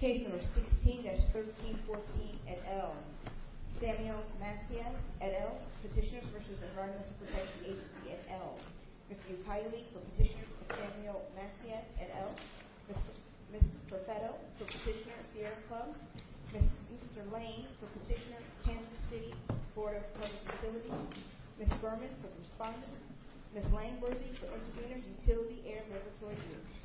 Case number 16-1314, et al. Samuel Masias, et al. Petitioners vs. Environmental Protection Agency, et al. Mr. Yutaili, for Petitioner Samuel Masias, et al. Ms. Perfetto, for Petitioner Sierra Club. Mr. Lane, for Petitioner Kansas City Board of Public Utilities. Ms. Berman, for Respondents. Ms. Langworthy, for Respondents. Ms. Langworthy, for Respondents Ms. Langworthy, for Respondents. Ms. Langworthy, for Respondents. Ms. Langworthy, for Respondents. Ms. Langworthy, for Respondents. Ms. Langworthy, for Respondents. Ms. Langworthy, for Respondents. Ms. Langworthy, for Respondents. Ms. Langworthy, for Respondents. Ms. Langworthy,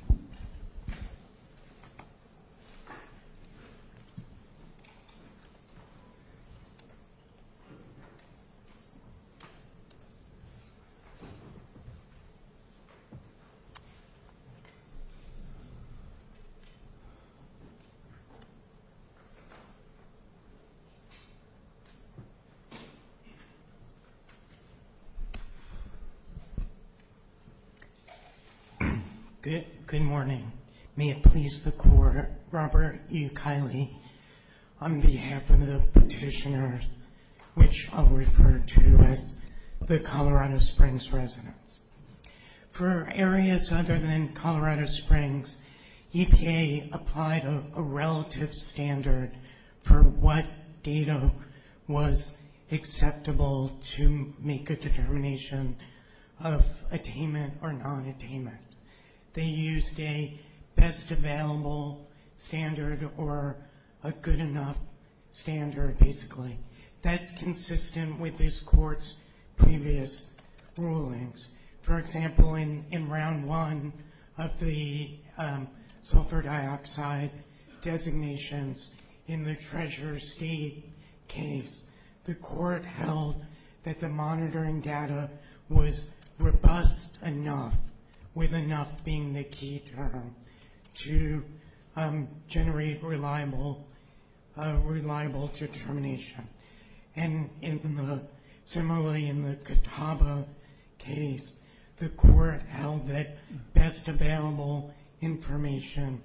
for Respondents. Good morning. May it please the Court, Robert E. Kiley, on behalf of the petitioners, which I'll refer to as the Colorado Springs residents. For areas other than Colorado Springs, EPA applied a relative standard for what data was acceptable to make a determination of attainment or non-attainment. They used a best available standard or a good enough standard, basically. That's consistent with this Court's previous rulings. For example, in Round 1 of the sulfur dioxide designations in the Treasure State case, the Court held that the monitoring data was robust enough, with enough being the key term, to generate reliable determination. Similarly, in the Catawba case, the Court held that best available information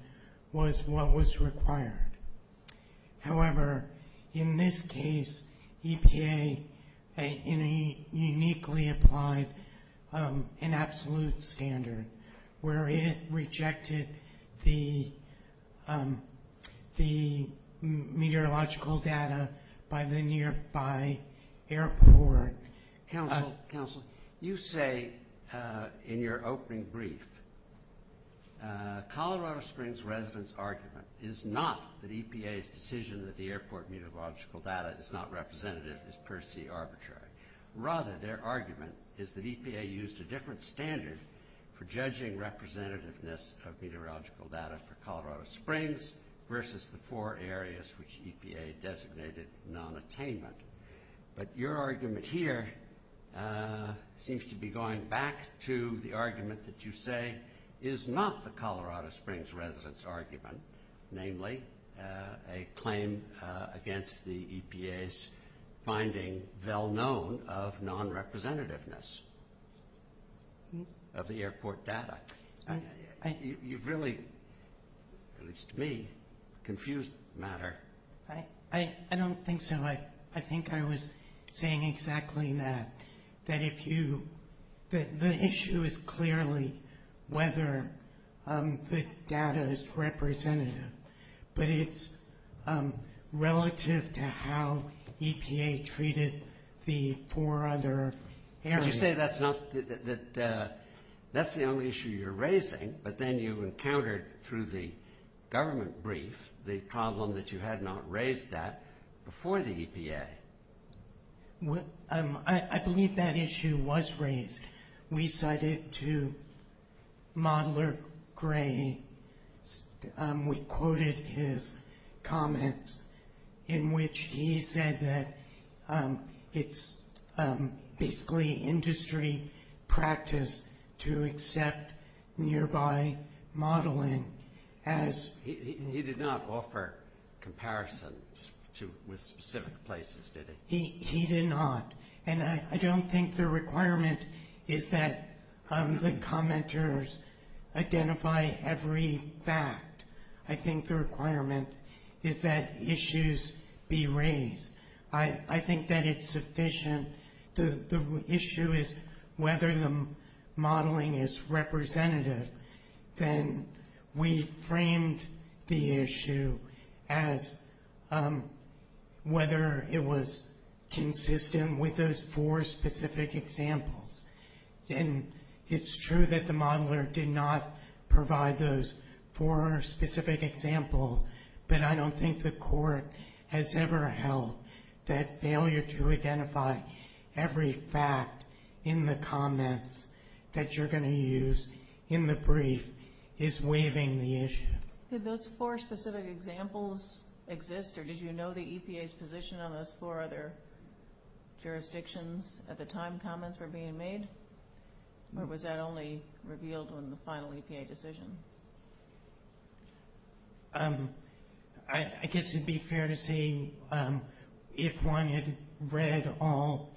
was what was required. You say, in your opening brief, Colorado Springs residents' argument is not that EPA's decision that the airport meteorological data is not representative is per se arbitrary. Rather, their argument is that EPA used a different standard for judging representativeness of meteorological data for Colorado Springs versus the four areas which EPA designated non-attainment. But your argument here seems to be going back to the argument that you say is not the Colorado Springs residents' argument, namely a claim against the EPA's finding well-known of non-representativeness of the airport data. You've really, at least to me, confused the matter. I don't think so. I think I was saying exactly that. The issue is clearly whether the data is representative, but it's relative to how EPA treated the four other areas. You say that's the only issue you're raising, but then you encountered through the government brief the problem that you had not raised that before the EPA. I believe that issue was raised. We cited to Modeler Gray, we quoted his comments in which he said that it's basically industry practice to accept nearby modeling as... He did not offer comparisons with specific places, did he? He did not, and I don't think the requirement is that the commenters identify every fact. I think the requirement is that issues be raised. I think that it's sufficient. The issue is whether the modeling is representative. Then we framed the issue as whether it was consistent with those four specific examples. It's true that the modeler did not provide those four specific examples, but I don't think the court has ever held that failure to identify every fact in the comments that you're going to use in the brief is waiving the issue. Did those four specific examples exist, or did you know the EPA's position on those four other jurisdictions at the time comments were being made, or was that only revealed when the final EPA decision? I guess it'd be fair to say if one had read all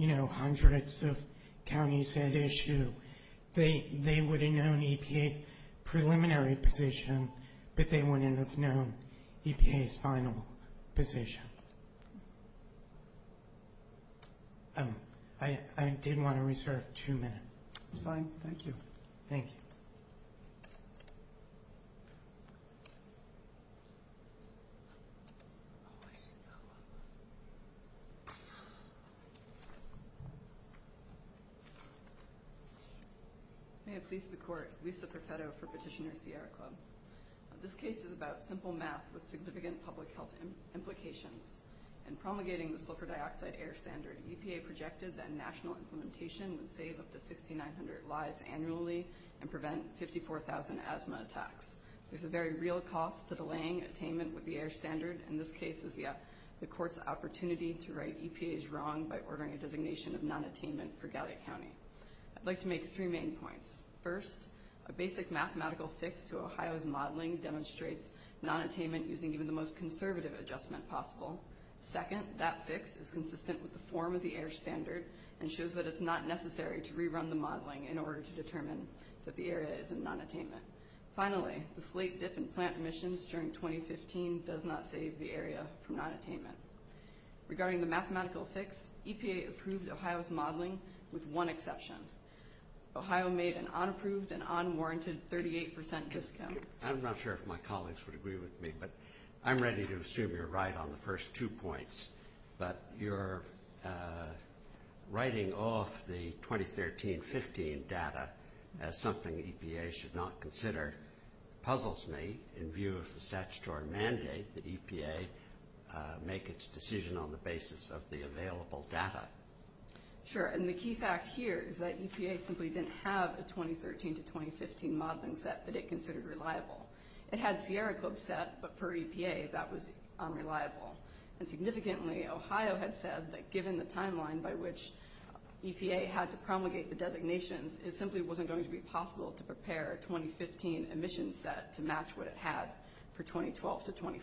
hundreds of counties that issue, they would have known EPA's preliminary position, but they wouldn't have known EPA's final position. I did want to reserve two minutes. It's fine. Thank you. Thank you. May it please the court. Lisa Perfetto for Petitioner Sierra Club. This case is about simple math with significant public health implications. In promulgating the sulfur dioxide air standard, EPA projected that national implementation would save up to 6,900 lives annually and prevent 54,000 asthma attacks. There's a very real cost to delaying attainment with the air standard, and this case is the court's opportunity to right EPA's wrong by ordering a designation of non-attainment for Gallia County. I'd like to make three main points. First, a basic mathematical fix to Ohio's modeling demonstrates non-attainment using even the most conservative adjustment possible. Second, that fix is consistent with the form of the air standard and shows that it's not necessary to rerun the modeling in order to determine that the area is in non-attainment. Finally, the slate dip in plant emissions during 2015 does not save the area from non-attainment. Regarding the mathematical fix, EPA approved Ohio's modeling with one exception. Ohio made an unapproved and unwarranted 38% discount. I'm not sure if my colleagues would agree with me, but I'm ready to assume you're right on the first two points. But your writing off the 2013-15 data as something EPA should not consider puzzles me in view of the statutory mandate that EPA make its decision on the basis of the available data. Sure, and the key fact here is that EPA simply didn't have a 2013-2015 modeling set that it considered reliable. It had Sierra Club set, but per EPA, that was unreliable. And significantly, Ohio had said that given the timeline by which EPA had to promulgate the designations, it simply wasn't going to be possible to prepare a 2015 emissions set to match what it had for 2012-2014.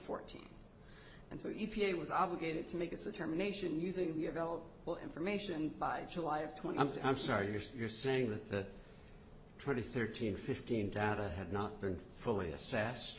And so EPA was obligated to make its determination using the available information by July of 2016. I'm sorry, you're saying that the 2013-15 data had not been fully assessed?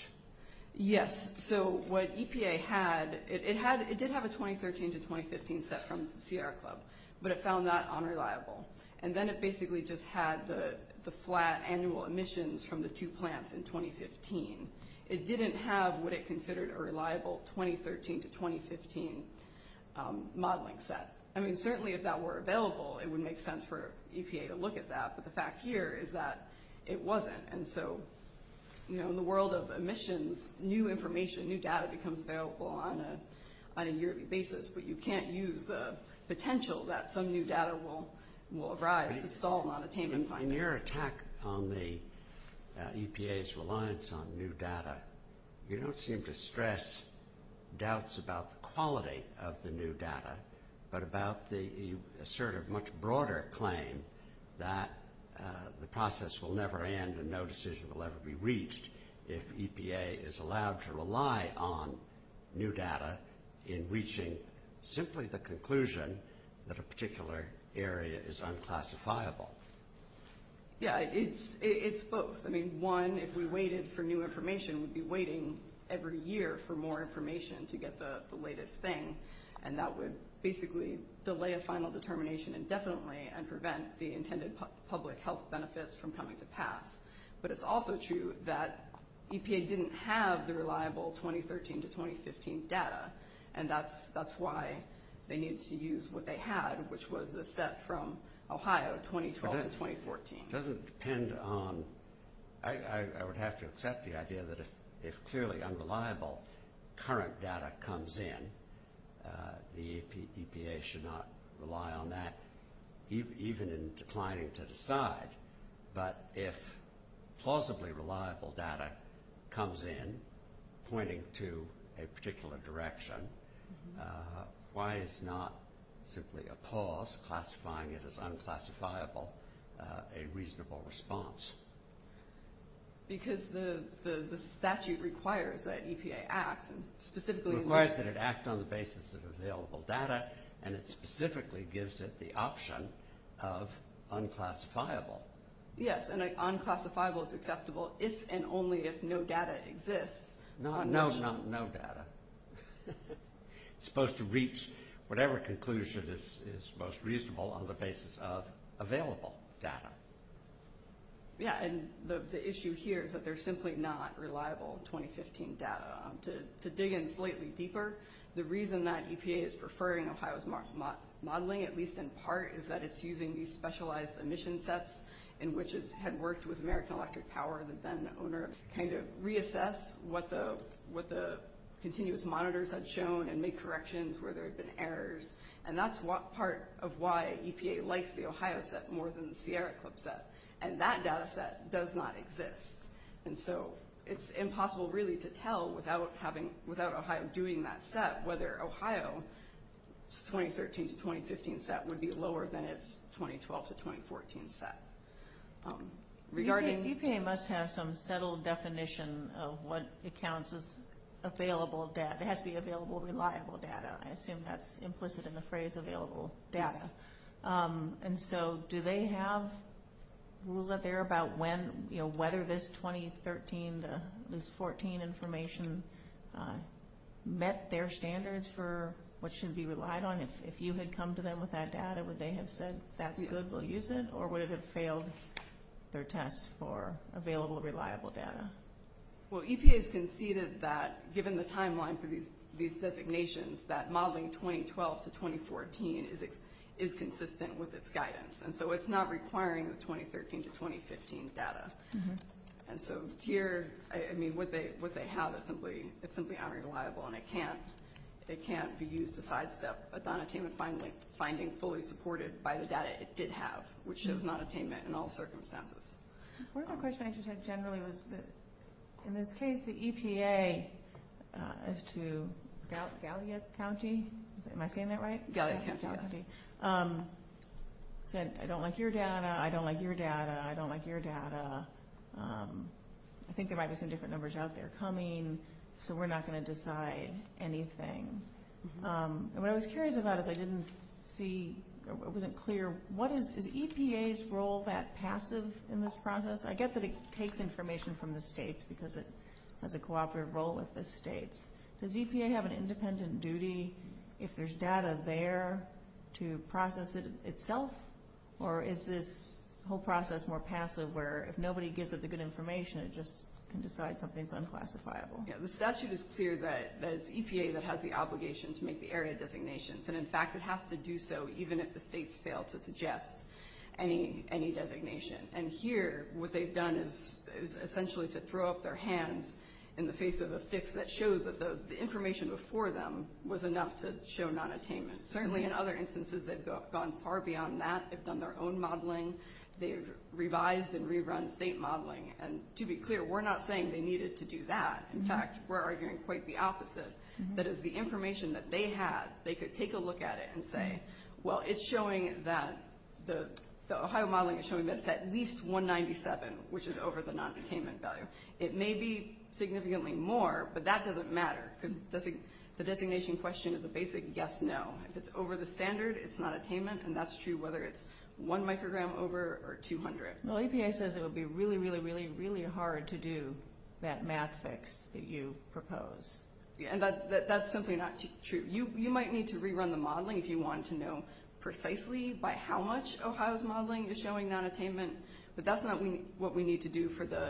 Yes, so what EPA had, it did have a 2013-2015 set from Sierra Club, but it found that unreliable. And then it basically just had the flat annual emissions from the two plants in 2015. It didn't have what it considered a reliable 2013-2015 modeling set. I mean, certainly if that were available, it would make sense for EPA to look at that, but the fact here is that it wasn't. And so, you know, in the world of emissions, new information, new data becomes available on a yearly basis, but you can't use the potential that some new data will arise to stall non-attainment findings. In your attack on the EPA's reliance on new data, you don't seem to stress doubts about the quality of the new data, but about the sort of much broader claim that the process will never end and no decision will ever be reached if EPA is allowed to rely on new data in reaching simply the conclusion that a particular area is unclassifiable. Yeah, it's both. I mean, one, if we waited for new information, we'd be waiting every year for more information to get the latest thing, and that would basically delay a final determination indefinitely and prevent the intended public health benefits from coming to pass. But it's also true that EPA didn't have the reliable 2013 to 2015 data, and that's why they needed to use what they had, which was a set from Ohio 2012 to 2014. It doesn't depend on – I would have to accept the idea that if clearly unreliable current data comes in, the EPA should not rely on that, even in declining to decide. But if plausibly reliable data comes in pointing to a particular direction, why is not simply a pause, classifying it as unclassifiable, a reasonable response? Because the statute requires that EPA acts, and specifically – requires that it act on the basis of available data, and it specifically gives it the option of unclassifiable. Yes, and unclassifiable is acceptable if and only if no data exists. No, no data. It's supposed to reach whatever conclusion is most reasonable on the basis of available data. Yeah, and the issue here is that there's simply not reliable 2015 data. To dig in slightly deeper, the reason that EPA is preferring Ohio's modeling, at least in part, is that it's using these specialized emission sets in which it had worked with American Electric Power, the then owner, kind of reassess what the continuous monitors had shown and make corrections where there had been errors. And that's part of why EPA likes the Ohio set more than the Sierra Club set, and that data set does not exist. And so it's impossible, really, to tell without having – without Ohio doing that set, whether Ohio's 2013 to 2015 set would be lower than its 2012 to 2014 set. Regarding – EPA must have some settled definition of what accounts as available data. It has to be available, reliable data. I assume that's implicit in the phrase available data. Yes. And so do they have a rule out there about when – whether this 2013 to 2014 information met their standards for what should be relied on? If you had come to them with that data, would they have said, that's good, we'll use it? Or would it have failed their test for available, reliable data? Well, EPA has conceded that, given the timeline for these designations, that modeling 2012 to 2014 is consistent with its guidance. And so it's not requiring the 2013 to 2015 data. And so here – I mean, what they have is simply unreliable, and it can't be used to sidestep a non-attainment finding fully supported by the data it did have, which shows non-attainment in all circumstances. One of the questions I just had generally was that, in this case, the EPA is to – Gallia County? Am I saying that right? Gallia County, yes. Said, I don't like your data, I don't like your data, I don't like your data. I think there might be some different numbers out there coming, so we're not going to decide anything. And what I was curious about is I didn't see – it wasn't clear – what is – is EPA's role that passive in this process? I get that it takes information from the states because it has a cooperative role with the states. Does EPA have an independent duty if there's data there to process it itself? Or is this whole process more passive, where if nobody gives it the good information, it just can decide something's unclassifiable? Yeah, the statute is clear that it's EPA that has the obligation to make the area designations. And, in fact, it has to do so even if the states fail to suggest any designation. And here, what they've done is essentially to throw up their hands in the face of a fix that shows that the information before them was enough to show nonattainment. Certainly, in other instances, they've gone far beyond that. They've done their own modeling. They've revised and rerun state modeling. And, to be clear, we're not saying they needed to do that. In fact, we're arguing quite the opposite. That is, the information that they had, they could take a look at it and say, well, it's showing that the Ohio modeling is showing that it's at least 197, which is over the nonattainment value. It may be significantly more, but that doesn't matter because the designation question is a basic yes-no. If it's over the standard, it's nonattainment, and that's true whether it's one microgram over or 200. Well, EPA says it would be really, really, really, really hard to do that math fix that you propose. And that's simply not true. You might need to rerun the modeling if you wanted to know precisely by how much Ohio's modeling is showing nonattainment, but that's not what we need to do for the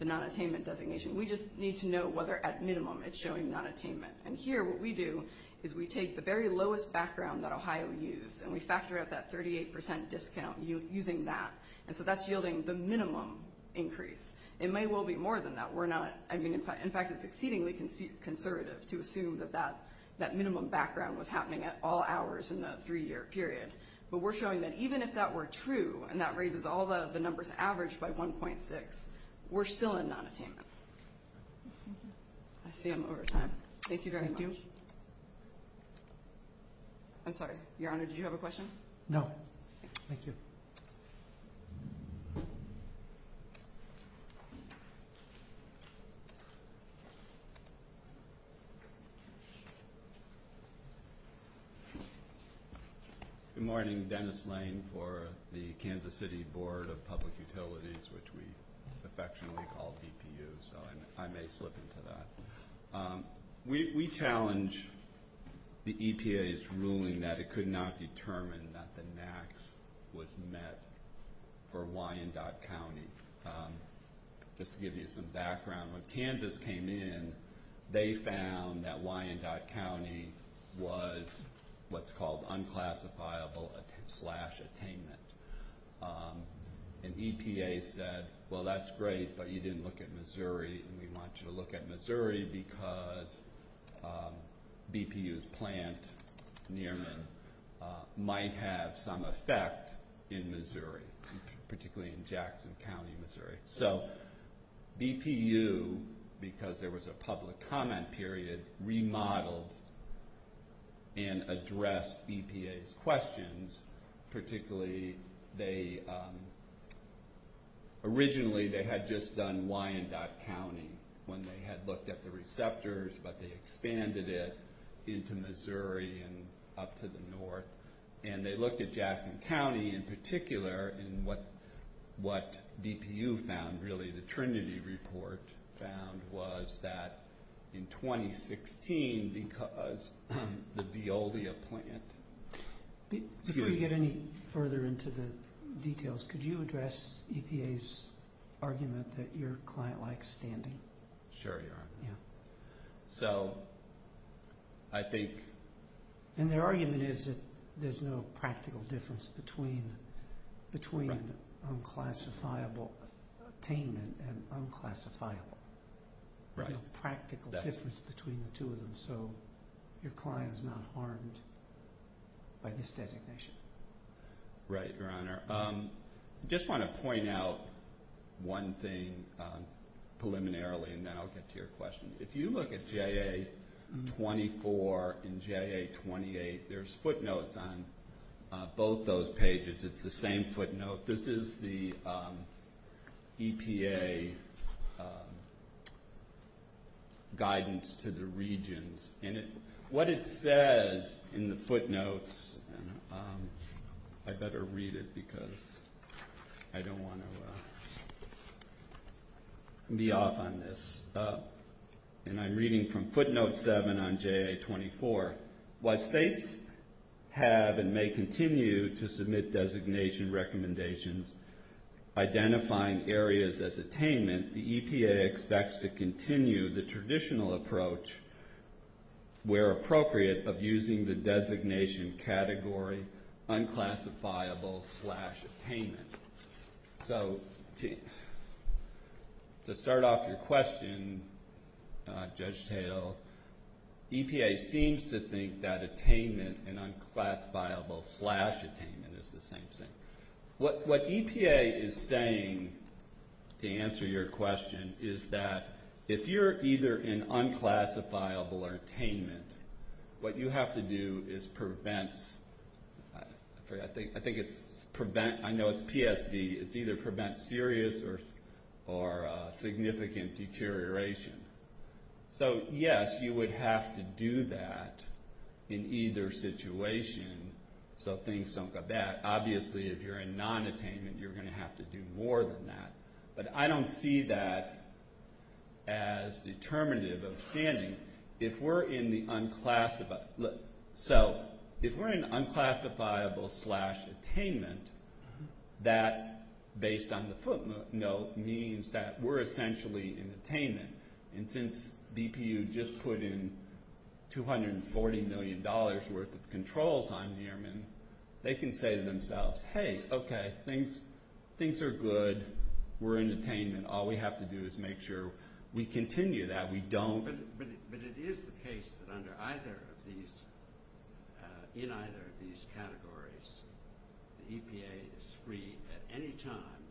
nonattainment designation. We just need to know whether, at minimum, it's showing nonattainment. And here what we do is we take the very lowest background that Ohio used and we factor out that 38% discount using that, and so that's yielding the minimum increase. It may well be more than that. In fact, it's exceedingly conservative to assume that that minimum background was happening at all hours in the three-year period, but we're showing that even if that were true and that raises all of the numbers averaged by 1.6, we're still in nonattainment. I see I'm over time. Thank you very much. I'm sorry. Your Honor, did you have a question? No. Thank you. Dennis Lane. Good morning. Dennis Lane for the Kansas City Board of Public Utilities, which we affectionately call BPU, so I may slip into that. We challenge the EPA's ruling that it could not determine that the max was met for Wyandotte County. Just to give you some background, when Kansas came in, they found that Wyandotte County was what's called unclassifiable slash attainment. And EPA said, well, that's great, but you didn't look at Missouri, and we want you to look at Missouri because BPU's plant, Nearman, might have some effect in Missouri, particularly in Jackson County, Missouri. So BPU, because there was a public comment period, remodeled and addressed EPA's questions, particularly they... Originally, they had just done Wyandotte County when they had looked at the receptors, but they expanded it into Missouri and up to the north. And they looked at Jackson County in particular, and what BPU found, really the Trinity report found, was that in 2016, because the Veolia plant... Before you get any further into the details, could you address EPA's argument that your client likes standing? Sure, Your Honor. Yeah. So, I think... And their argument is that there's no practical difference between unclassifiable attainment and unclassifiable. Right. There's no practical difference between the two of them, so your client is not harmed by this designation. Right, Your Honor. I just want to point out one thing preliminarily, and then I'll get to your question. If you look at JA-24 and JA-28, there's footnotes on both those pages. It's the same footnote. This is the EPA guidance to the regions, and what it says in the footnotes... I better read it because I don't want to be off on this. And I'm reading from footnote 7 on JA-24. While states have and may continue to submit designation recommendations identifying areas as attainment, the EPA expects to continue the traditional approach, where appropriate, of using the designation category unclassifiable slash attainment. So, to start off your question, Judge Tatel, EPA seems to think that attainment and unclassifiable slash attainment is the same thing. What EPA is saying, to answer your question, is that if you're either in unclassifiable or attainment, what you have to do is prevent... I know it's PSB. It's either prevent serious or significant deterioration. So, yes, you would have to do that in either situation so things don't go bad. Obviously, if you're in non-attainment, you're going to have to do more than that. But I don't see that as determinative of standing. If we're in the unclassified... So, if we're in unclassifiable slash attainment, that, based on the footnote, means that we're essentially in attainment. And since BPU just put in $240 million worth of controls on Newman, they can say to themselves, Hey, okay, things are good. We're in attainment. All we have to do is make sure we continue that. We don't... But it is the case that under either of these... in either of these categories, the EPA is free at any time,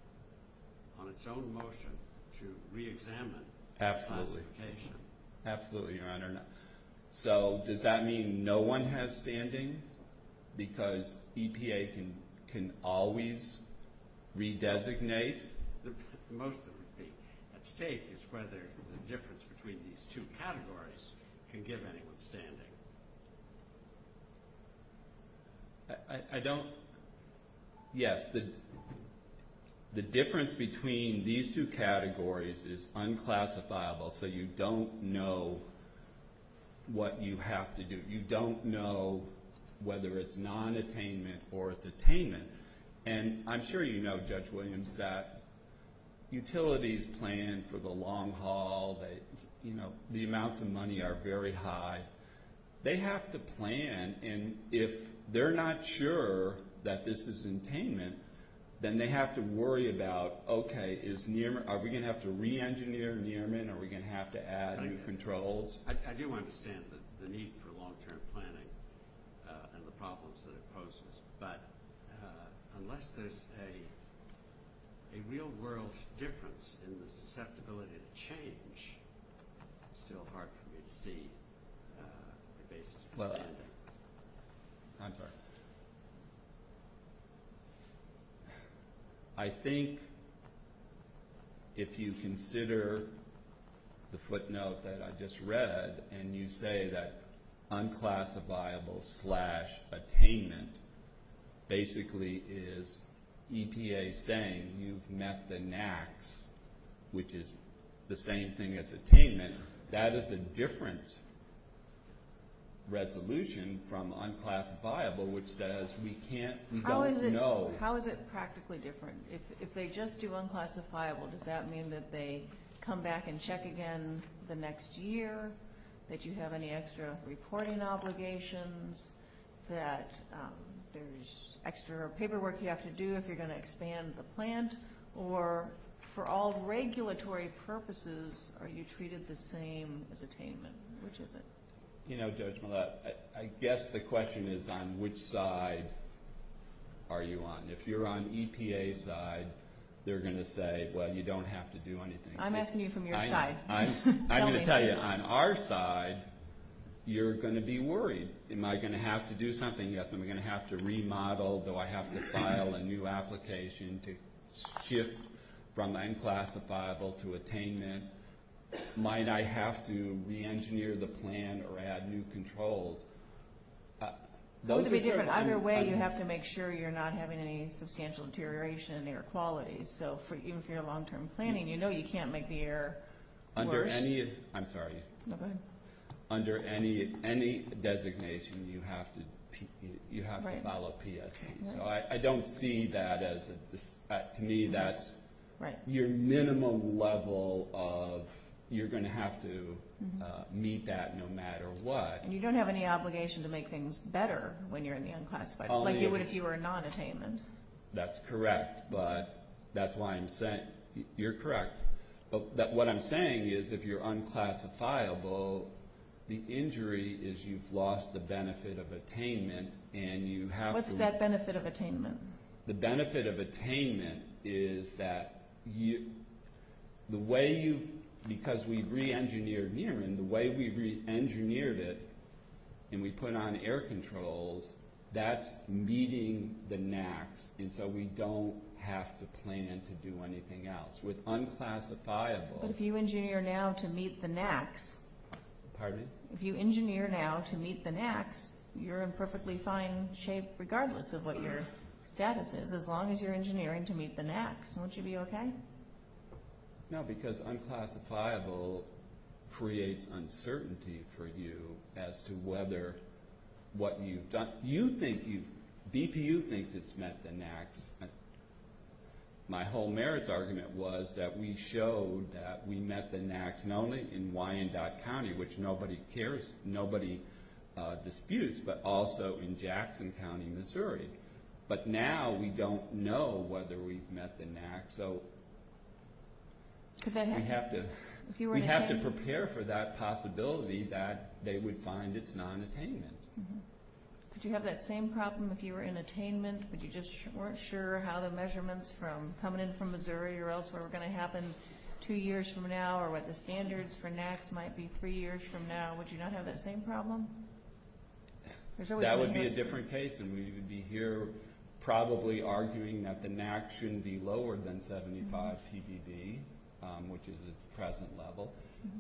on its own motion, to re-examine classification. Absolutely. Absolutely, Your Honor. So, does that mean no one has standing? Because EPA can always redesignate? Most of it would be. At stake is whether the difference between these two categories can give anyone standing. I don't... Yes, the difference between these two categories is unclassifiable, so you don't know what you have to do. You don't know whether it's non-attainment or it's attainment. And I'm sure you know, Judge Williams, that utilities plan for the long haul. You know, the amounts of money are very high. They have to plan, and if they're not sure that this is attainment, then they have to worry about, okay, are we going to have to re-engineer Newman? Are we going to have to add new controls? I do understand the need for long-term planning and the problems that it poses, but unless there's a real-world difference in the susceptibility to change, it's still hard for me to see a basis for standing. I'm sorry. I think if you consider the footnote that I just read, and you say that unclassifiable slash attainment basically is EPA saying you've met the NACs, which is the same thing as attainment, that is a different resolution from unclassifiable, which says we can't... How is it practically different? If they just do unclassifiable, does that mean that they come back and check again the next year, that you have any extra reporting obligations, that there's extra paperwork you have to do if you're going to expand the plant, or for all regulatory purposes, are you treated the same as attainment? Which is it? You know, Judge Millett, I guess the question is on which side are you on. If you're on EPA's side, they're going to say, well, you don't have to do anything. I'm asking you from your side. I'm going to tell you, on our side, you're going to be worried. Am I going to have to do something? Yes, am I going to have to remodel? Do I have to file a new application to shift from unclassifiable to attainment? Might I have to re-engineer the plant or add new controls? Those are different. Either way, you have to make sure you're not having any substantial deterioration in air quality. So even if you're in long-term planning, you know you can't make the air worse? I'm sorry. Go ahead. Under any designation, you have to file a PSP. So I don't see that as, to me, that's your minimum level of, you're going to have to meet that no matter what. And you don't have any obligation to make things better when you're in the unclassified. Like you would if you were non-attainment. That's correct, but that's why I'm saying, you're correct. What I'm saying is, if you're unclassifiable, the injury is you've lost the benefit of attainment. What's that benefit of attainment? The benefit of attainment is that the way you've, because we've re-engineered Murren, the way we've re-engineered it and we've put on air controls, that's meeting the NACs. And so we don't have to plan to do anything else. With unclassifiable... But if you engineer now to meet the NACs... Pardon me? If you engineer now to meet the NACs, you're in perfectly fine shape regardless of what your status is, as long as you're engineering to meet the NACs. Won't you be okay? No, because unclassifiable creates uncertainty for you as to whether what you've done... BPU thinks it's met the NACs. My whole merits argument was that we showed that we met the NACs not only in Wyandotte County, which nobody cares, nobody disputes, but also in Jackson County, Missouri. But now we don't know whether we've met the NACs, so we have to prepare for that possibility that they would find it's non-attainment. Could you have that same problem if you were in attainment? Would you just weren't sure how the measurements coming in from Missouri or elsewhere were going to happen two years from now, or what the standards for NACs might be three years from now? Would you not have that same problem? That would be a different case, and we would be here probably arguing that the NACs shouldn't be lower than 75 ppb, which is at the present level.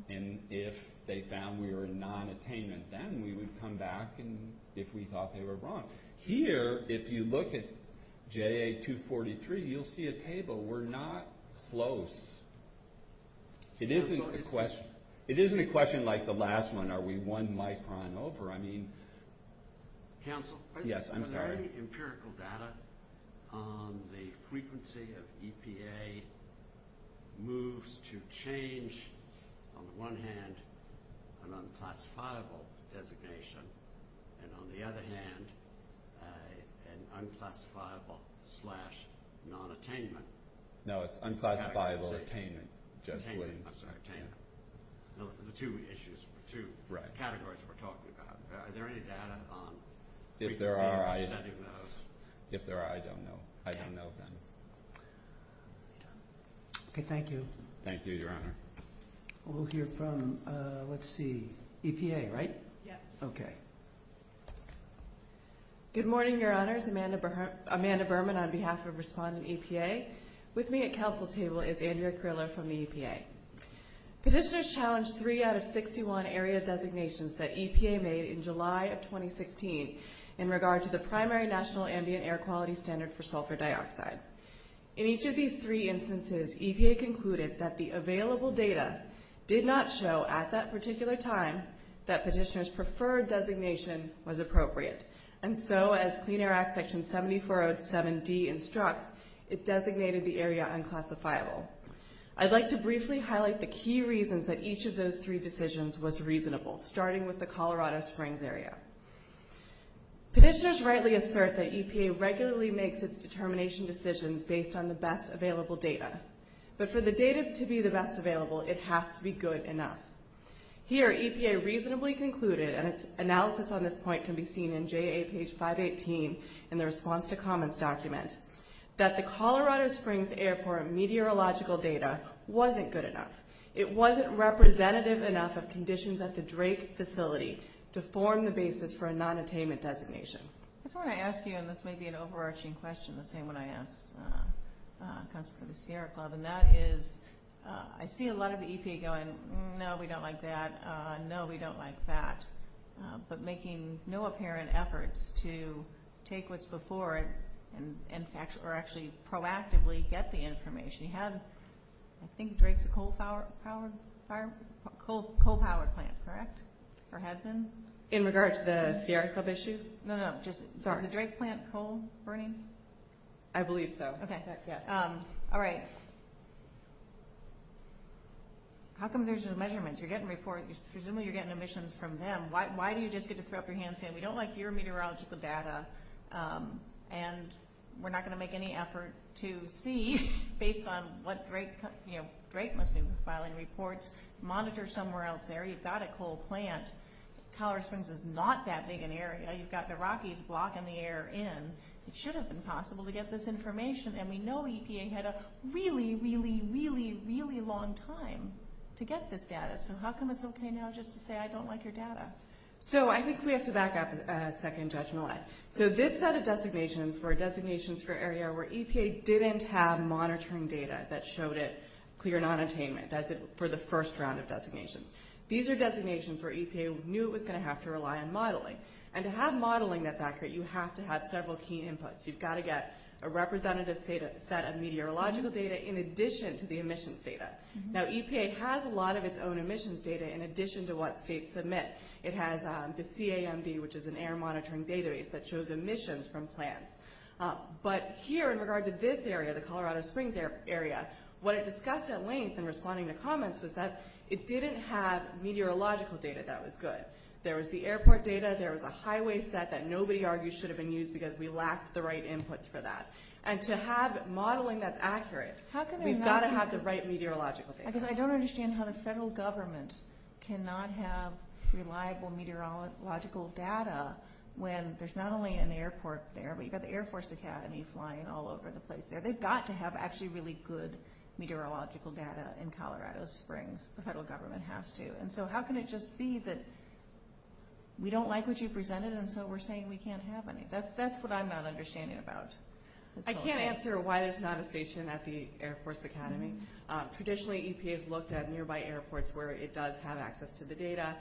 And if they found we were in non-attainment, then we would come back if we thought they were wrong. Here, if you look at JA-243, you'll see a table. We're not close. It isn't a question like the last one, are we one micron over? I mean... Counsel? Yes, I'm sorry. Was there any empirical data on the frequency of EPA moves to change, on the one hand, an unclassifiable designation, and on the other hand, an unclassifiable slash non-attainment? No, it's unclassifiable attainment. Attainment, I'm sorry, attainment. Those are the two issues, the two categories we're talking about. Are there any data on frequency of sending those? If there are, I don't know. I don't know, then. Okay, thank you. Thank you, Your Honor. We'll hear from, let's see, EPA, right? Yes. Okay. Good morning, Your Honors. Amanda Berman on behalf of Respondent EPA. With me at counsel's table is Andrea Criller from the EPA. Petitioners challenged three out of 61 area designations that EPA made in July of 2016 in regard to the primary national ambient air quality standard for sulfur dioxide. In each of these three instances, EPA concluded that the available data did not show at that particular time that petitioner's preferred designation was appropriate, and so as Clean Air Act Section 7407D instructs, it designated the area unclassifiable. I'd like to briefly highlight the key reasons that each of those three decisions was reasonable, starting with the Colorado Springs area. Petitioners rightly assert that EPA regularly makes its determination decisions based on the best available data, but for the data to be the best available, it has to be good enough. Here, EPA reasonably concluded, and its analysis on this point can be seen in JA page 518 in the response to comments document, that the Colorado Springs Airport meteorological data wasn't good enough. It wasn't representative enough of conditions at the Drake facility to form the basis for a nonattainment designation. I just want to ask you, and this may be an overarching question, the same one I asked for the Sierra Club, and that is, I see a lot of EPA going, no, we don't like that, no, we don't like that, but making no apparent efforts to take what's before it and actually proactively get the information. You had, I think, Drake's coal-powered plant, correct? Or had been? In regard to the Sierra Club issue? No, no, just, sorry. Is the Drake plant coal-burning? I believe so. Okay. All right. How come there's no measurements? You're getting reports, presumably you're getting emissions from them. Why do you just get to throw up your hands saying we don't like your meteorological data and we're not going to make any effort to see based on what Drake, you know, Drake must be filing reports. Monitor somewhere else there. You've got a coal plant. Colorado Springs is not that big an area. You've got the Rockies blocking the air in. It should have been possible to get this information and we know EPA had a really, really, really, really long time to get this data. So how come it's okay now just to say I don't like your data? So I think we have to back up a second judgment. So this set of designations were designations for an area where EPA didn't have monitoring data that showed it clear non-attainment for the first round of designations. These are designations where EPA knew it was going to have to rely on modeling. And to have modeling that's accurate, you have to have several key inputs. You've got to get a representative set of meteorological data in addition to the emissions data. Now EPA has a lot of its own emissions data in addition to what states submit. It has the CAMD, which is an air monitoring database that shows emissions from plants. But here in regard to this area, the Colorado Springs area, what it discussed at length in responding to comments was that it didn't have meteorological data that was good. There was the airport data, there was a highway set that nobody argues should have been used because we lacked the right inputs for that. And to have modeling that's accurate, we've got to have the right meteorological data. Because I don't understand how the federal government cannot have reliable meteorological data when there's not only an airport there, but you've got the Air Force Academy flying all over the place there. They've got to have actually really good meteorological data in Colorado Springs. The federal government has to. And so how can it just be that we don't like what you presented and so we're saying we can't have any? That's what I'm not understanding about. I can't answer why there's not a station at the Air Force Academy. Traditionally, EPA has looked at nearby airports where it does have access to the data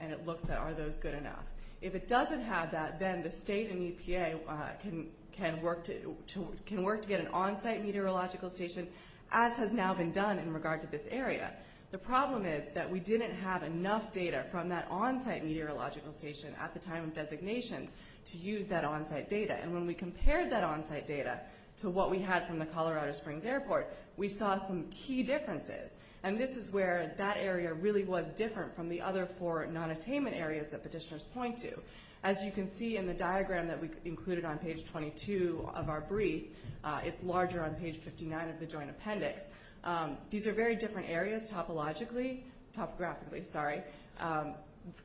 and it looks at are those good enough. If it doesn't have that, then the state and EPA can work to get an on-site meteorological station as has now been done in regard to this area. The problem is that we didn't have enough data from that on-site meteorological station at the time of designation to use that on-site data. And when we compared that on-site data to what we had from the Colorado Springs Airport, we saw some key differences. And this is where that area really was different from the other four non-attainment areas that petitioners point to. As you can see in the diagram that we included on page 22 of our brief, it's larger on page 59 of the Joint Appendix, these are very different areas topologically, topographically, sorry,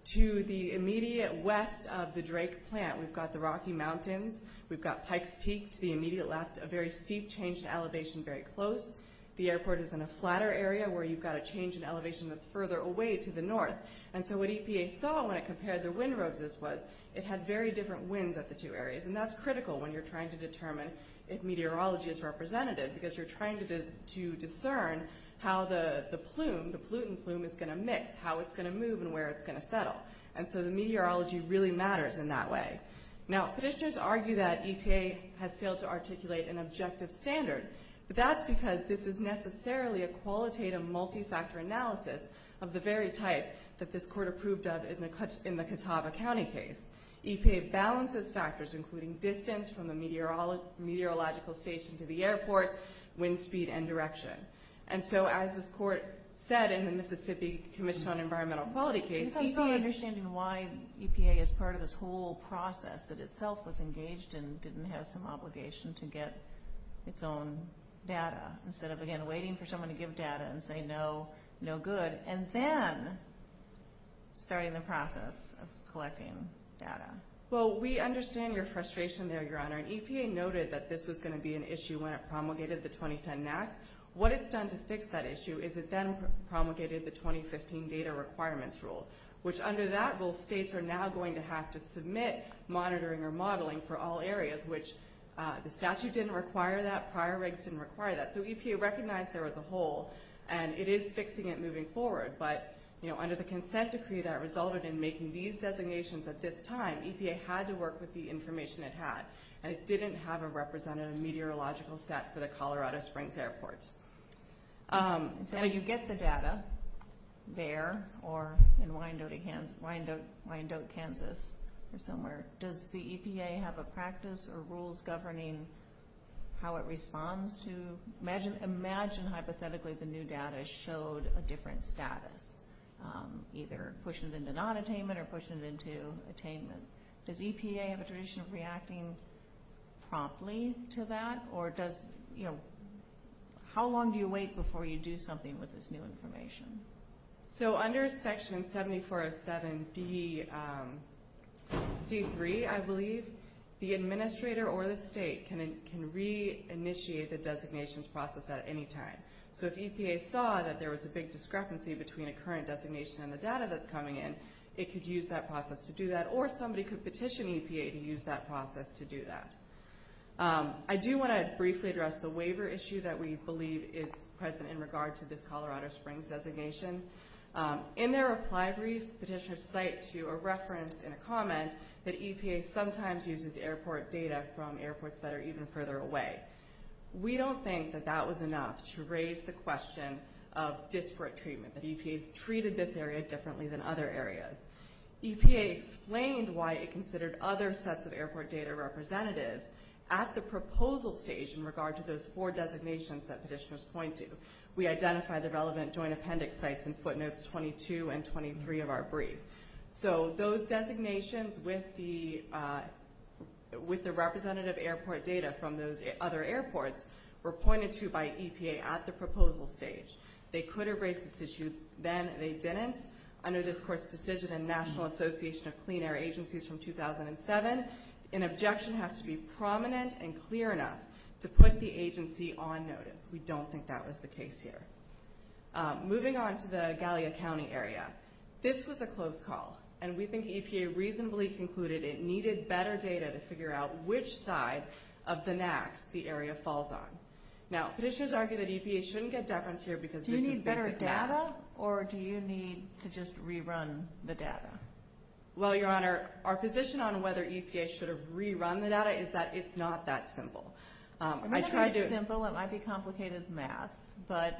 to the immediate west of the Drake Plant. We've got the Rocky Mountains. We've got Pikes Peak to the immediate left, a very steep change in elevation very close. The airport is in a flatter area where you've got a change in elevation that's further away to the north. And so what EPA saw when it compared the wind roads was it had very different winds at the two areas. And that's critical when you're trying to determine if meteorology is representative because you're trying to discern how the plume, the pollutant plume, is going to mix, how it's going to move, and where it's going to settle. And so the meteorology really matters in that way. Now, petitioners argue that EPA has failed to articulate an objective standard, but that's because this is necessarily a qualitative multi-factor analysis of the very type that this Court approved of in the Catawba County case. EPA balances factors including distance from the meteorological station to the airport, wind speed, and direction. And so as this Court said in the Mississippi Commission on Environmental Quality case, EPA... It's also understanding why EPA is part of this whole process that itself was engaged and didn't have some obligation to get its own data instead of, again, waiting for someone to give data and say, no, no good, and then starting the process of collecting data. Well, we understand your frustration there, Your Honor. And EPA noted that this was going to be an issue when it promulgated the 2010 NAAQS. What it's done to fix that issue is it then promulgated the 2015 data requirements rule, which under that rule, states are now going to have to submit monitoring or modeling for all areas, which the statute didn't require that, prior regs didn't require that. So EPA recognized there was a hole, and it is fixing it moving forward. But, you know, under the consent decree that resulted in making these designations at this time, EPA had to work with the information it had, and it didn't have a representative meteorological stat for the Colorado Springs airports. So you get the data there or in Wyandotte, Kansas, or somewhere. Does the EPA have a practice or rules governing how it responds to... Imagine hypothetically the new data showed a different status, either pushing it into nonattainment or pushing it into attainment. Does EPA have a tradition of reacting promptly to that? Or does... How long do you wait before you do something with this new information? So under Section 7407D... C-3, I believe, the administrator or the state can re-initiate the designations process at any time. So if EPA saw that there was a big discrepancy between a current designation and the data that's coming in, it could use that process to do that, or somebody could petition EPA to use that process to do that. I do want to briefly address the waiver issue that we believe is present in regard to this Colorado Springs designation. In their reply brief, petitioners cite to a reference and a comment that EPA sometimes uses airport data from airports that are even further away. We don't think that that was enough to raise the question of disparate treatment, that EPA's treated this area differently than other areas. EPA explained why it considered other sets of airport data representatives at the proposal stage in regard to those four designations that petitioners point to. We identify the relevant joint appendix sites in footnotes 22 and 23 of our brief. So those designations with the... with the representative airport data from those other airports were pointed to by EPA at the proposal stage. They could have raised this issue, then they didn't. Under this court's decision in National Association of Clean Air Agencies from 2007, an objection has to be prominent and clear enough to put the agency on notice. We don't think that was the case here. Moving on to the Gallia County area. This was a close call, and we think EPA reasonably concluded it needed better data to figure out which side of the NAAQS the area falls on. Now, petitioners argue that EPA shouldn't get deference here because this is basic math. Do you need better data, or do you need to just rerun the data? Well, Your Honor, our position on whether EPA should have rerun the data is that it's not that simple. I tried to... It might be simple, it might be complicated math, but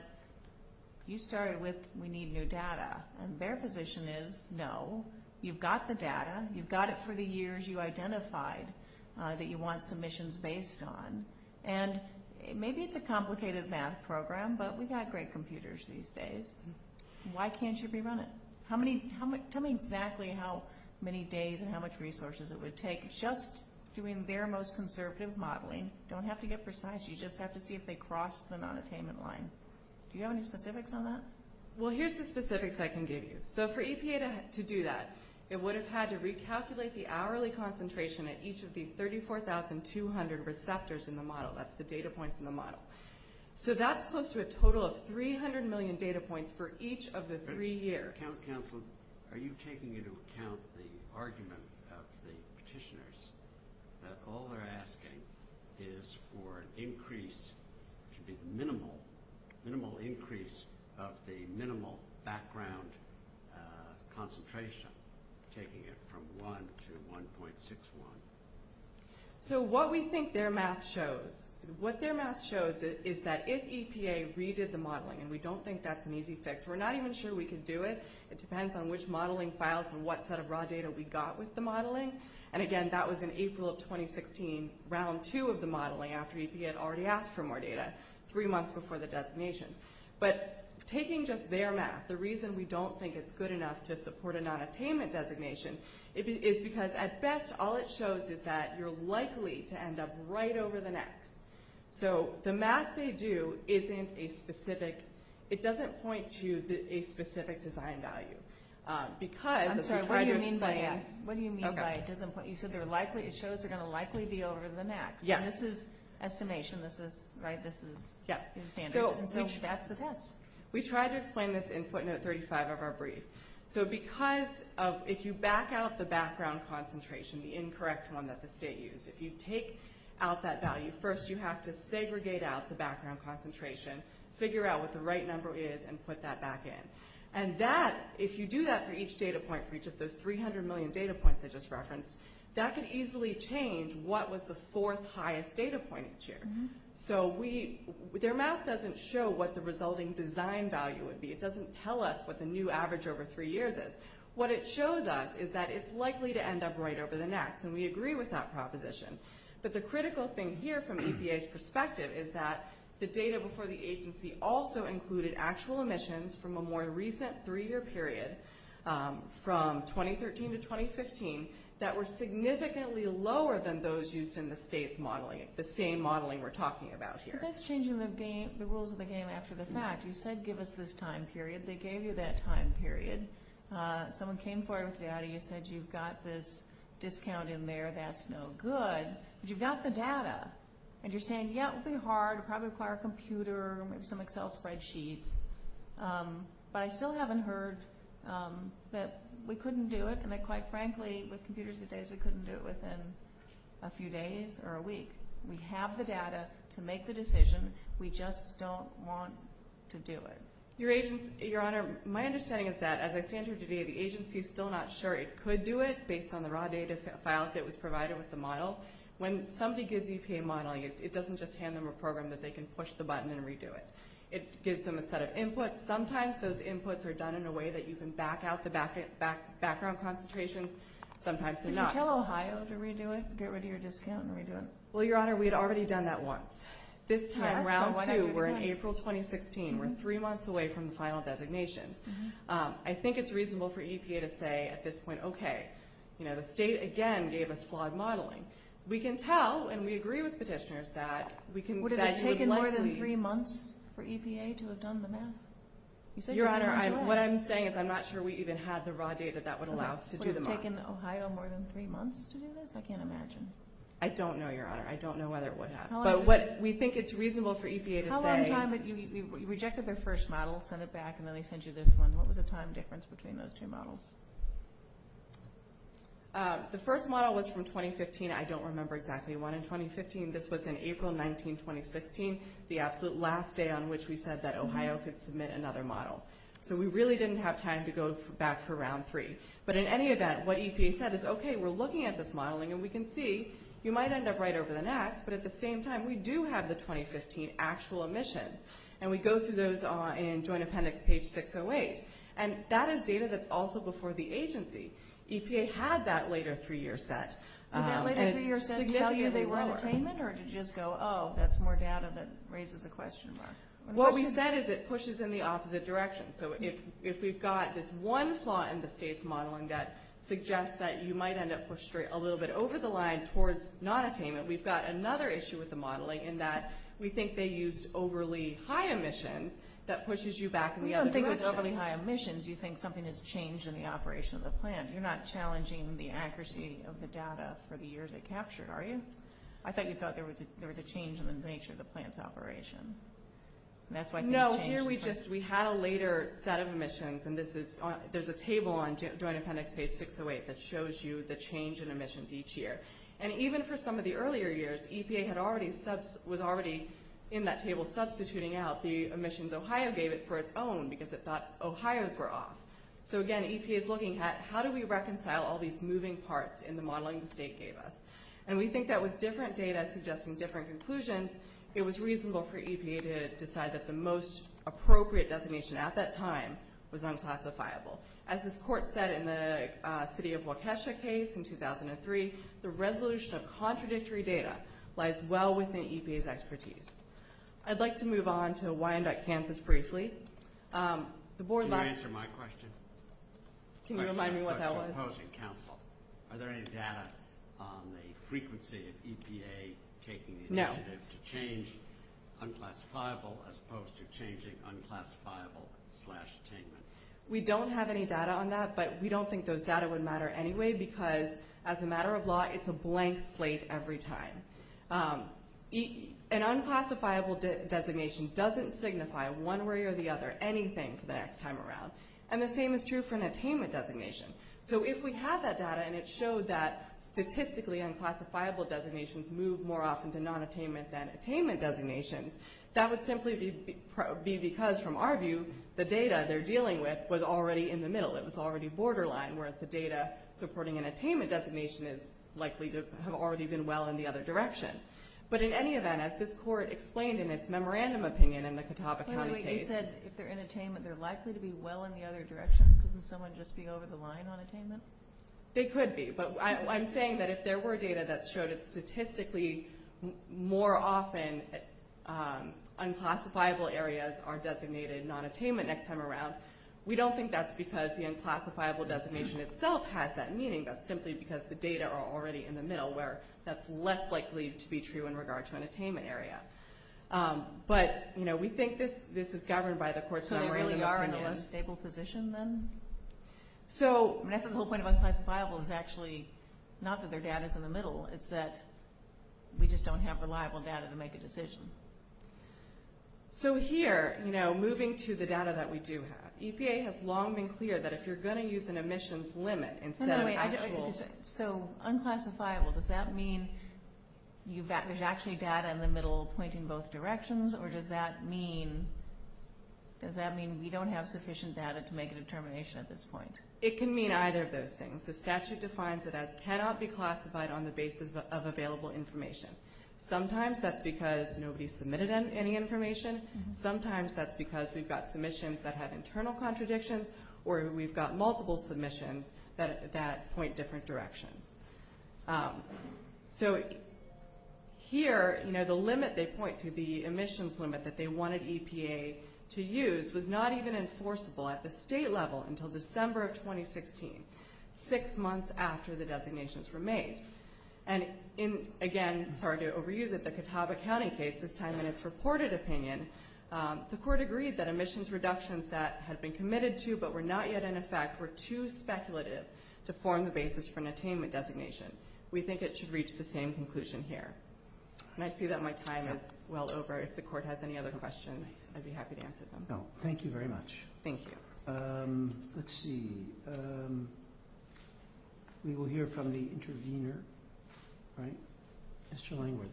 you started with we need new data, and their position is no. You've got the data, you've got it for the years you identified that you want submissions based on, and maybe it's a complicated math program, but we've got great computers these days. Why can't you rerun it? Tell me exactly how many days and how much resources it would take. Just doing their most conservative modeling. You don't have to get precise. You just have to see if they cross the nonattainment line. Do you have any specifics on that? Well, here's the specifics I can give you. So for EPA to do that, it would have had to recalculate the hourly concentration at each of the 34,200 receptors in the model. That's the data points in the model. So that's close to a total of 300 million data points for each of the three years. Are you taking into account the argument of the petitioners that all they're asking is for an increase, which would be minimal, minimal increase of the minimal background concentration, taking it from 1 to 1.61? So what we think their math shows, what their math shows is that if EPA redid the modeling, and we don't think that's an easy fix, we're not even sure we could do it. It depends on which modeling files and what set of raw data we got with the modeling. And again, that was in April of 2016, round two of the modeling, after EPA had already asked for more data, three months before the designations. But taking just their math, the reason we don't think it's good enough to support a nonattainment designation is because at best all it shows is that you're likely to end up right over the next. So the math they do isn't a specific, it doesn't point to a specific design value. I'm sorry, what do you mean by that? What do you mean by it doesn't point, you said it shows they're going to likely be over the next, and this is estimation, this is standards, and so that's the test. We tried to explain this in footnote 35 of our brief. So because if you back out the background concentration, the incorrect one that the state used, if you take out that value, first you have to segregate out the background concentration, figure out what the right number is, and put that back in. And that, if you do that for each data point, for each of those 300 million data points I just referenced, that could easily change what was the fourth highest data point each year. So their math doesn't show what the resulting design value would be. It doesn't tell us what the new average over three years is. What it shows us is that it's likely to end up right over the next, and we agree with that proposition. But the critical thing here from EPA's perspective is that the data before the agency also included actual emissions from a more recent three-year period, from 2013 to 2015, that were significantly lower than those used in the state's modeling, the same modeling we're talking about here. But that's changing the rules of the game after the fact. You said give us this time period. They gave you that time period. Someone came forward with the data. You said you've got this discount in there. That's no good. But you've got the data. And you're saying, yeah, it would be hard. It would probably require a computer, maybe some Excel spreadsheets. But I still haven't heard that we couldn't do it, and that, quite frankly, with computers today, we couldn't do it within a few days or a week. We have the data to make the decision. We just don't want to do it. Your Honor, my understanding is that, as I stand here today, the agency's still not sure it could do it based on the raw data files that was provided with the model. When somebody gives EPA modeling, it doesn't just hand them a program that they can push the button and redo it. It gives them a set of inputs. Sometimes those inputs are done in a way that you can back out the background concentrations. Sometimes they're not. Could you tell Ohio to redo it, get rid of your discount, and redo it? Well, Your Honor, we had already done that once. This time, round 2, we're in April 2016. We're 3 months away from the final designations. I think it's reasonable for EPA to say at this point, okay, you know, the state again gave us flawed modeling. We can tell, and we agree with petitioners, that we can... Would it have taken more than 3 months for EPA to have done the math? Your Honor, what I'm saying is I'm not sure we even had the raw data that would allow us to do the math. Would it have taken Ohio more than 3 months to do this? I can't imagine. I don't know, Your Honor. I don't know whether it would have. But what we think it's reasonable for EPA to say... How long time did you... You rejected their first model, sent it back, and then they sent you this one. What was the time difference between those 2 models? The first model was from 2015. I don't remember exactly when in 2015. This was in April 19, 2016, the absolute last day on which we said that Ohio could submit another model. So we really didn't have time to go back for round 3. But in any event, what EPA said is, okay, we're looking at this modeling, and we can see you might end up right over the next, but at the same time, we do have the 2015 actual emissions. And we go through those in Joint Appendix page 608. And that is data that's also before the agency. EPA had that later 3-year set. Did that later 3-year set tell you they were at attainment, or did you just go, oh, that's more data that raises a question mark? What we said is it pushes in the opposite direction. So if we've got this one flaw in the state's modeling that suggests that you might end up pushed a little bit over the line towards not attainment, we've got another issue with the modeling in that we think they used overly high emissions that pushes you back in the other direction. We don't think it was overly high emissions. You think something has changed in the operation of the plant. You're not challenging the accuracy of the data for the years it captured, are you? I thought you thought there was a change in the nature of the plant's operation. No, here we just, we had a later set of emissions, and there's a table on Joint Appendix page 608 that shows you the change in emissions each year. And even for some of the earlier years, EPA was already in that table substituting out the emissions Ohio gave it for its own because it thought Ohio's were off. So again, EPA's looking at how do we reconcile all these moving parts in the modeling the state gave us? And we think that with different data suggesting different conclusions, it was reasonable for EPA to decide that the most appropriate designation at that time was unclassifiable. As this court said in the city of Waukesha case in 2003, the resolution of contradictory data lies well within EPA's expertise. I'd like to move on to Wyandotte, Kansas briefly. Can you answer my question? Can you remind me what that was? Are there any data on the frequency of EPA taking the initiative to change unclassifiable as opposed to changing unclassifiable slash attainment? We don't have any data on that, but we don't think those data would matter anyway because as a matter of law, it's a blank slate every time. An unclassifiable designation doesn't signify one way or the other anything for the next time around. And the same is true for an attainment designation. So if we have that data and it showed that statistically unclassifiable designations move more often to non-attainment than it would likely be because from our view, the data they're dealing with was already in the middle. It was already borderline, whereas the data supporting an attainment designation is likely to have already been well in the other direction. But in any event, as this Court explained in its memorandum opinion in the Catawba County case... Wait, wait, wait. You said if they're in attainment they're likely to be well in the other direction? Couldn't someone just be over the line on attainment? They could be, but I'm saying that if there were data that showed it statistically more often, unclassifiable areas are designated non-attainment next time around, we don't think that's because the unclassifiable designation itself has that meaning. That's simply because the data are already in the middle where that's less likely to be true in regard to an attainment area. But, you know, we think this is governed by the Court's memorandum... So they really are in a less stable position then? So, I mean, I think the whole point of unclassifiable is actually not that their data's in the middle, it's that we just don't have reliable data to make a decision. So here, you know, moving to the data that we do have, EPA has long been clear that if you're going to use an emissions limit instead of actual... So, unclassifiable, does that mean there's actually data in the middle pointing both directions, or does that mean we don't have sufficient data to make a determination at this point? It can mean either of those things. The statute defines it as a limit of available information. Sometimes that's because nobody submitted any information, sometimes that's because we've got submissions that have internal contradictions, or we've got multiple submissions that point different directions. So, here, you know, the limit they point to, the emissions limit that they wanted EPA to use was not even enforceable at the state level until December of 2016, six months after the in, again, sorry to overuse it, the Catawba County case, this time in its reported opinion, the court agreed that emissions reductions that had been committed to, but were not yet in effect, were too speculative to form the basis for an attainment designation. We think it should reach the same conclusion here. And I see that my time is well over. If the court has any other questions, I'd be happy to answer them. Thank you very much. Let's see. We will hear from the intervener. Mr. Langworthy.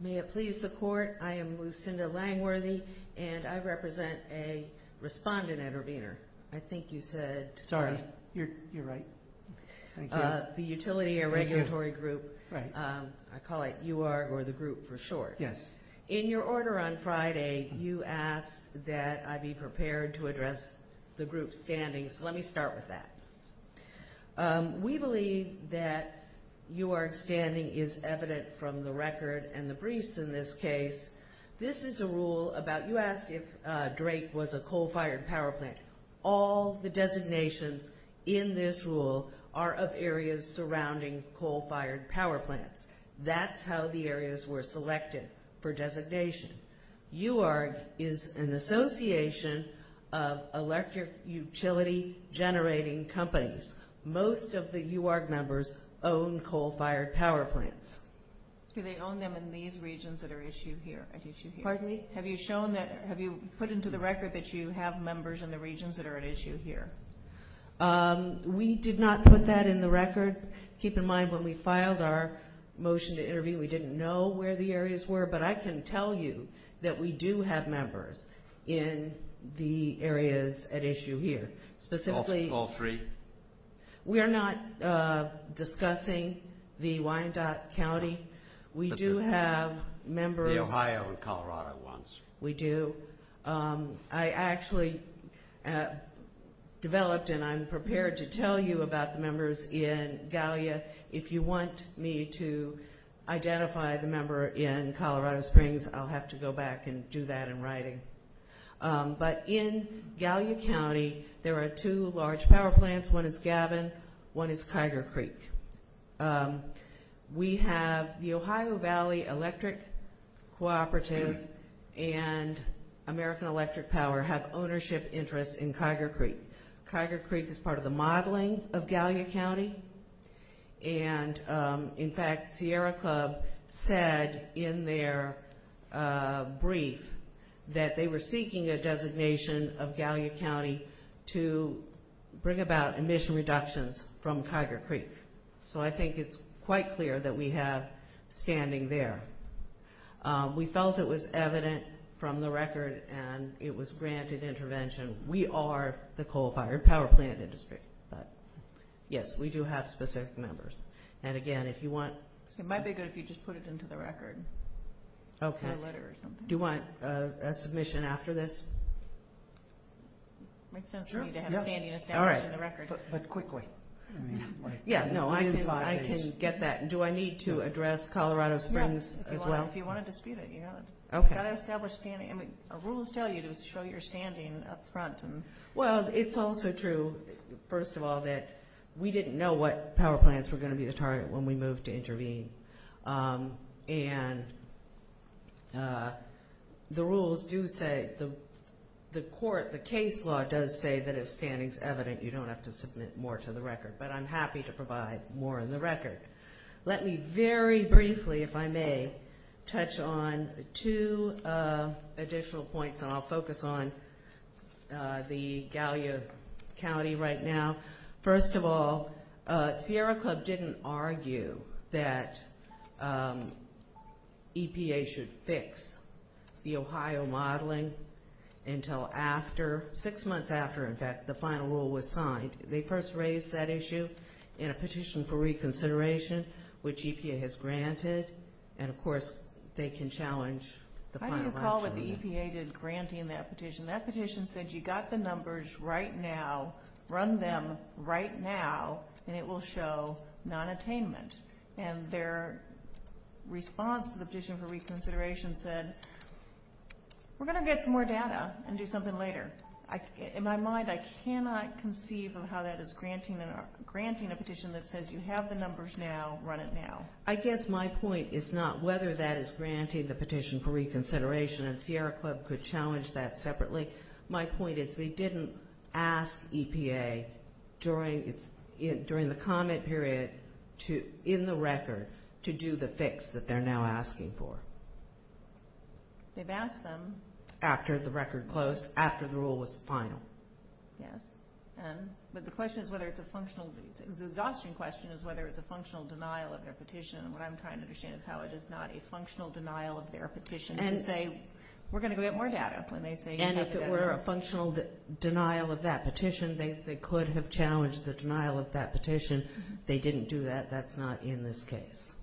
May it please the court, I am Lucinda Langworthy, and I represent a respondent intervener. I think you said... Sorry. You're right. The Utility and Regulatory Group. I call it UR, or the group for short. Yes. In your order on Friday, you asked that I be prepared to address the group's standings. Let me start with that. We believe that UR standing is evident from the record and the briefs in this case. This is a rule about... You asked if Drake was a coal-fired power plant. All the designations in this rule are of areas surrounding coal-fired power plants. That's how the areas were selected for designation. UR is an association of electric utility generating companies. Most of the UR members own coal-fired power plants. Do they own them in these regions that are at issue here? Pardon me? Have you put into the record that you have members in the regions that are at issue here? We did not put that in the record. Keep in mind, when we filed our motion to intervene, we didn't know where the areas were, but I can tell you that we do have members in the areas at issue here. Specifically... All three? We are not discussing the Wyandotte County. We do have members... The Ohio and Colorado ones. We do. I actually developed and I'm prepared to tell you about the members in Gallia. If you want me to identify the member in Colorado Springs, I'll have to go back and do that in writing. But in Gallia County, there are two large power plants. One is Gavin. One is Kyger Creek. We have... The Ohio Valley Electric Cooperative and American Electric Power have ownership interests in Kyger Creek. Kyger Creek is part of the modeling of Gallia County. And in fact, Sierra Club said in their brief that they were seeking a designation of Gallia County to bring about emission reductions from Kyger Creek. So I think it's quite clear that we have standing there. We felt it was evident from the record and it was granted intervention. We are the coal-fired power plant industry. Yes, we do have specific members. And again, if you want... It might be good if you just put it into the record. Do you want a submission after this? It makes sense for you to have standing established in the record. But quickly. Yeah, no, I can get that. Do I need to address If you want to dispute it. Rules tell you to show your standing up front. Well, it's also true first of all that we didn't know what power plants were going to be the target when we moved to intervene. And the rules do say, the court, the case law does say that if standing is evident, you don't have to submit more to the record. But I'm happy to provide more in the record. Let me very briefly, if I may, touch on two additional points and I'll the Gallia County right now. First of all, Sierra Club didn't argue that EPA should fix the Ohio modeling until after, six months after, in fact, the final rule was signed. They first raised that issue in a petition for reconsideration, which EPA has granted. And of course they can challenge the Why do you call what the EPA did granting that petition? That petition said you got the numbers right now, run them right now, and it will show non-attainment. And their response to the petition for reconsideration said, we're going to get some more data and do something later. In my mind, I cannot conceive of how that is granting a petition that says you have the numbers now, run it now. I guess my point is not whether that is granting the petition for reconsideration and Sierra Club could challenge that separately. My point is they didn't ask EPA during the comment period in the record to do the fix that they're now asking for. They've asked them after the record closed, after the rule was final. Yes. But the question is whether it's a functional the exhausting question is whether it's a functional denial of their petition. And what I'm trying to understand is how it is not a functional denial of their petition to say we're going to get more data. And if it were a functional denial of that petition, they could have challenged the denial of that petition. They didn't do that. That's not in this case.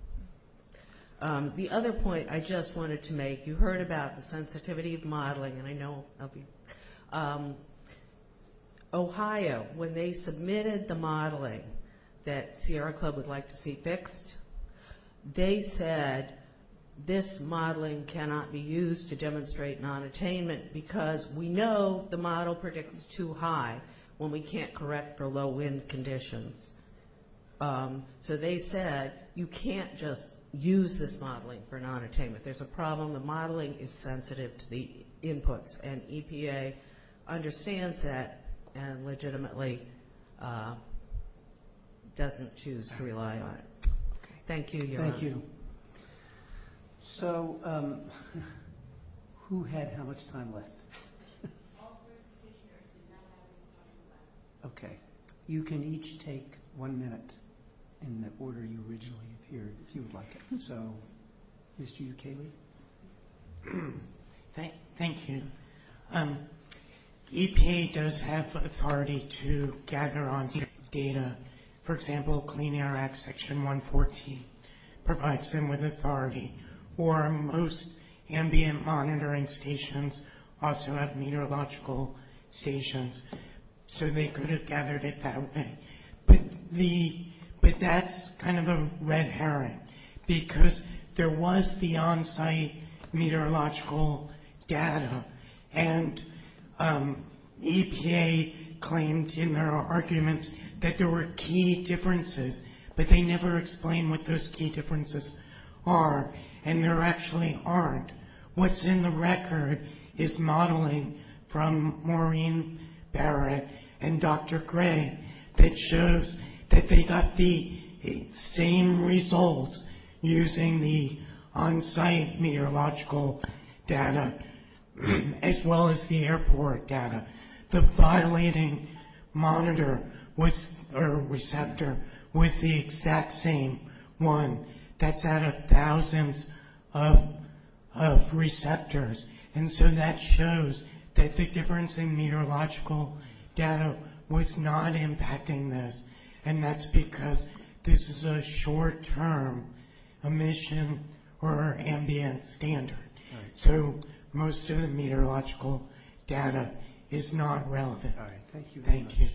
The other point I just wanted to make, you heard about the sensitivity of modeling. Ohio, when they submitted the modeling that Sierra Club would like to see fixed, they said this modeling cannot be used to demonstrate nonattainment because we know the model predicts too high when we can't correct for low wind conditions. So they said you can't just use this modeling for nonattainment. There's a problem. The modeling is sensitive to the inputs and EPA understands that and legitimately doesn't choose to rely on it. Thank you. So who had how much time left? Okay. You can each take one minute in the order you originally appeared, if you would like. So, Mr. Ukaley. Thank you. EPA does have authority to gather on data. For example, Clean Air Act Section 114 provides them with authority. Or most ambient monitoring stations also have meteorological stations. So they could have gathered it that way. But that's kind of a red herring because there was the on-site meteorological data and EPA actually claimed in their arguments that there were key differences, but they never explained what those key differences are and there actually aren't. What's in the record is modeling from Maureen Barrett and Dr. Gray that shows that they got the same results using the on-site meteorological data as well as the airport data. The violating receptor was the exact same one that's out of thousands of receptors. So that shows that the difference in meteorological data was not impacting this and that's because this is a short-term emission or ambient standard. So most of the meteorological data is not relevant. Thank you.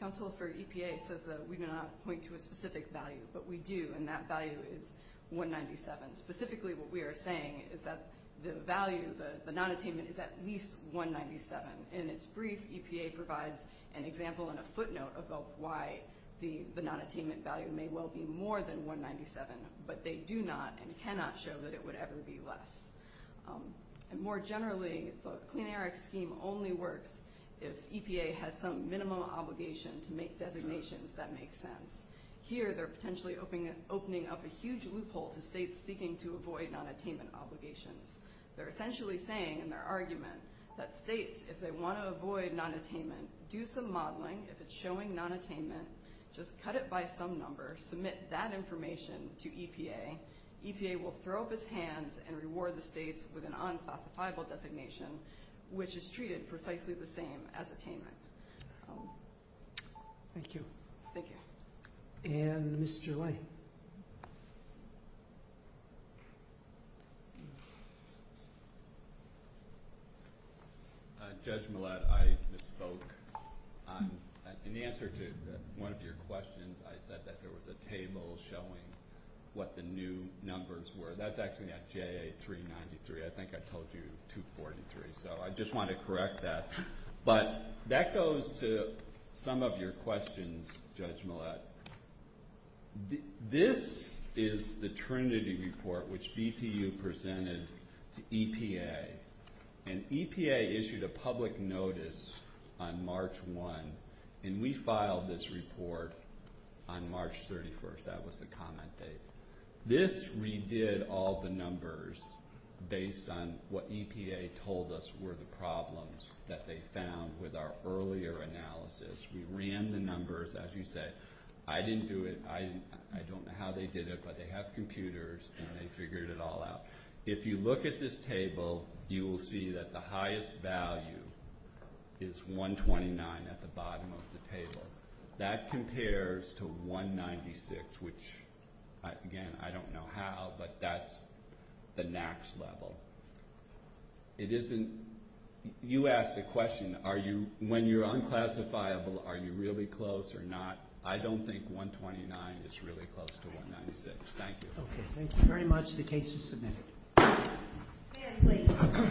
Council for EPA says that we do not point to a specific value, but we do and that value is what they're saying is that the value of the non-attainment is at least 197. In its brief, EPA provides an example and a footnote about why the non-attainment value may well be more than 197, but they do not and cannot show that it would ever be less. More generally, the Clean Air Act scheme only works if EPA has some minimum obligation to make designations that make sense. Here, they're potentially opening up a huge loophole to states seeking to avoid non-attainment obligations. They're essentially saying in their argument that states, if they want to avoid non-attainment, do some modeling. If it's showing non-attainment, just cut it by some number, submit that information to EPA. EPA will throw up its hands and reward the states with an unclassifiable designation, which is treated precisely the same as attainment. Thank you. Thank you. And Mr. Lane. Judge Millett, I misspoke. In the answer to one of your questions, I said that there was a table showing what the new numbers were. That's actually at JA 393. I think I told you 243, so I just want to correct that. That goes to some of your questions, Judge Millett. This is the Trinity report, which BPU presented to EPA. EPA issued a public notice on March 1, and we filed this report on March 31. That was the comment date. This redid all the numbers based on what EPA told us were the problems that they found with our earlier analysis. We ran the numbers, as you said. I didn't do it. I don't know how they did it, but they have computers, and they figured it all out. If you look at this table, you will see that the highest value is 129 at the bottom of the table. That compares to 196, which, again, I don't know how, but that's the next level. It isn't... You asked a question. When you're unclassifiable, are you really close or not? I don't think 129 is really close to 196. Thank you. Thank you very much. The case is submitted. Stand, please.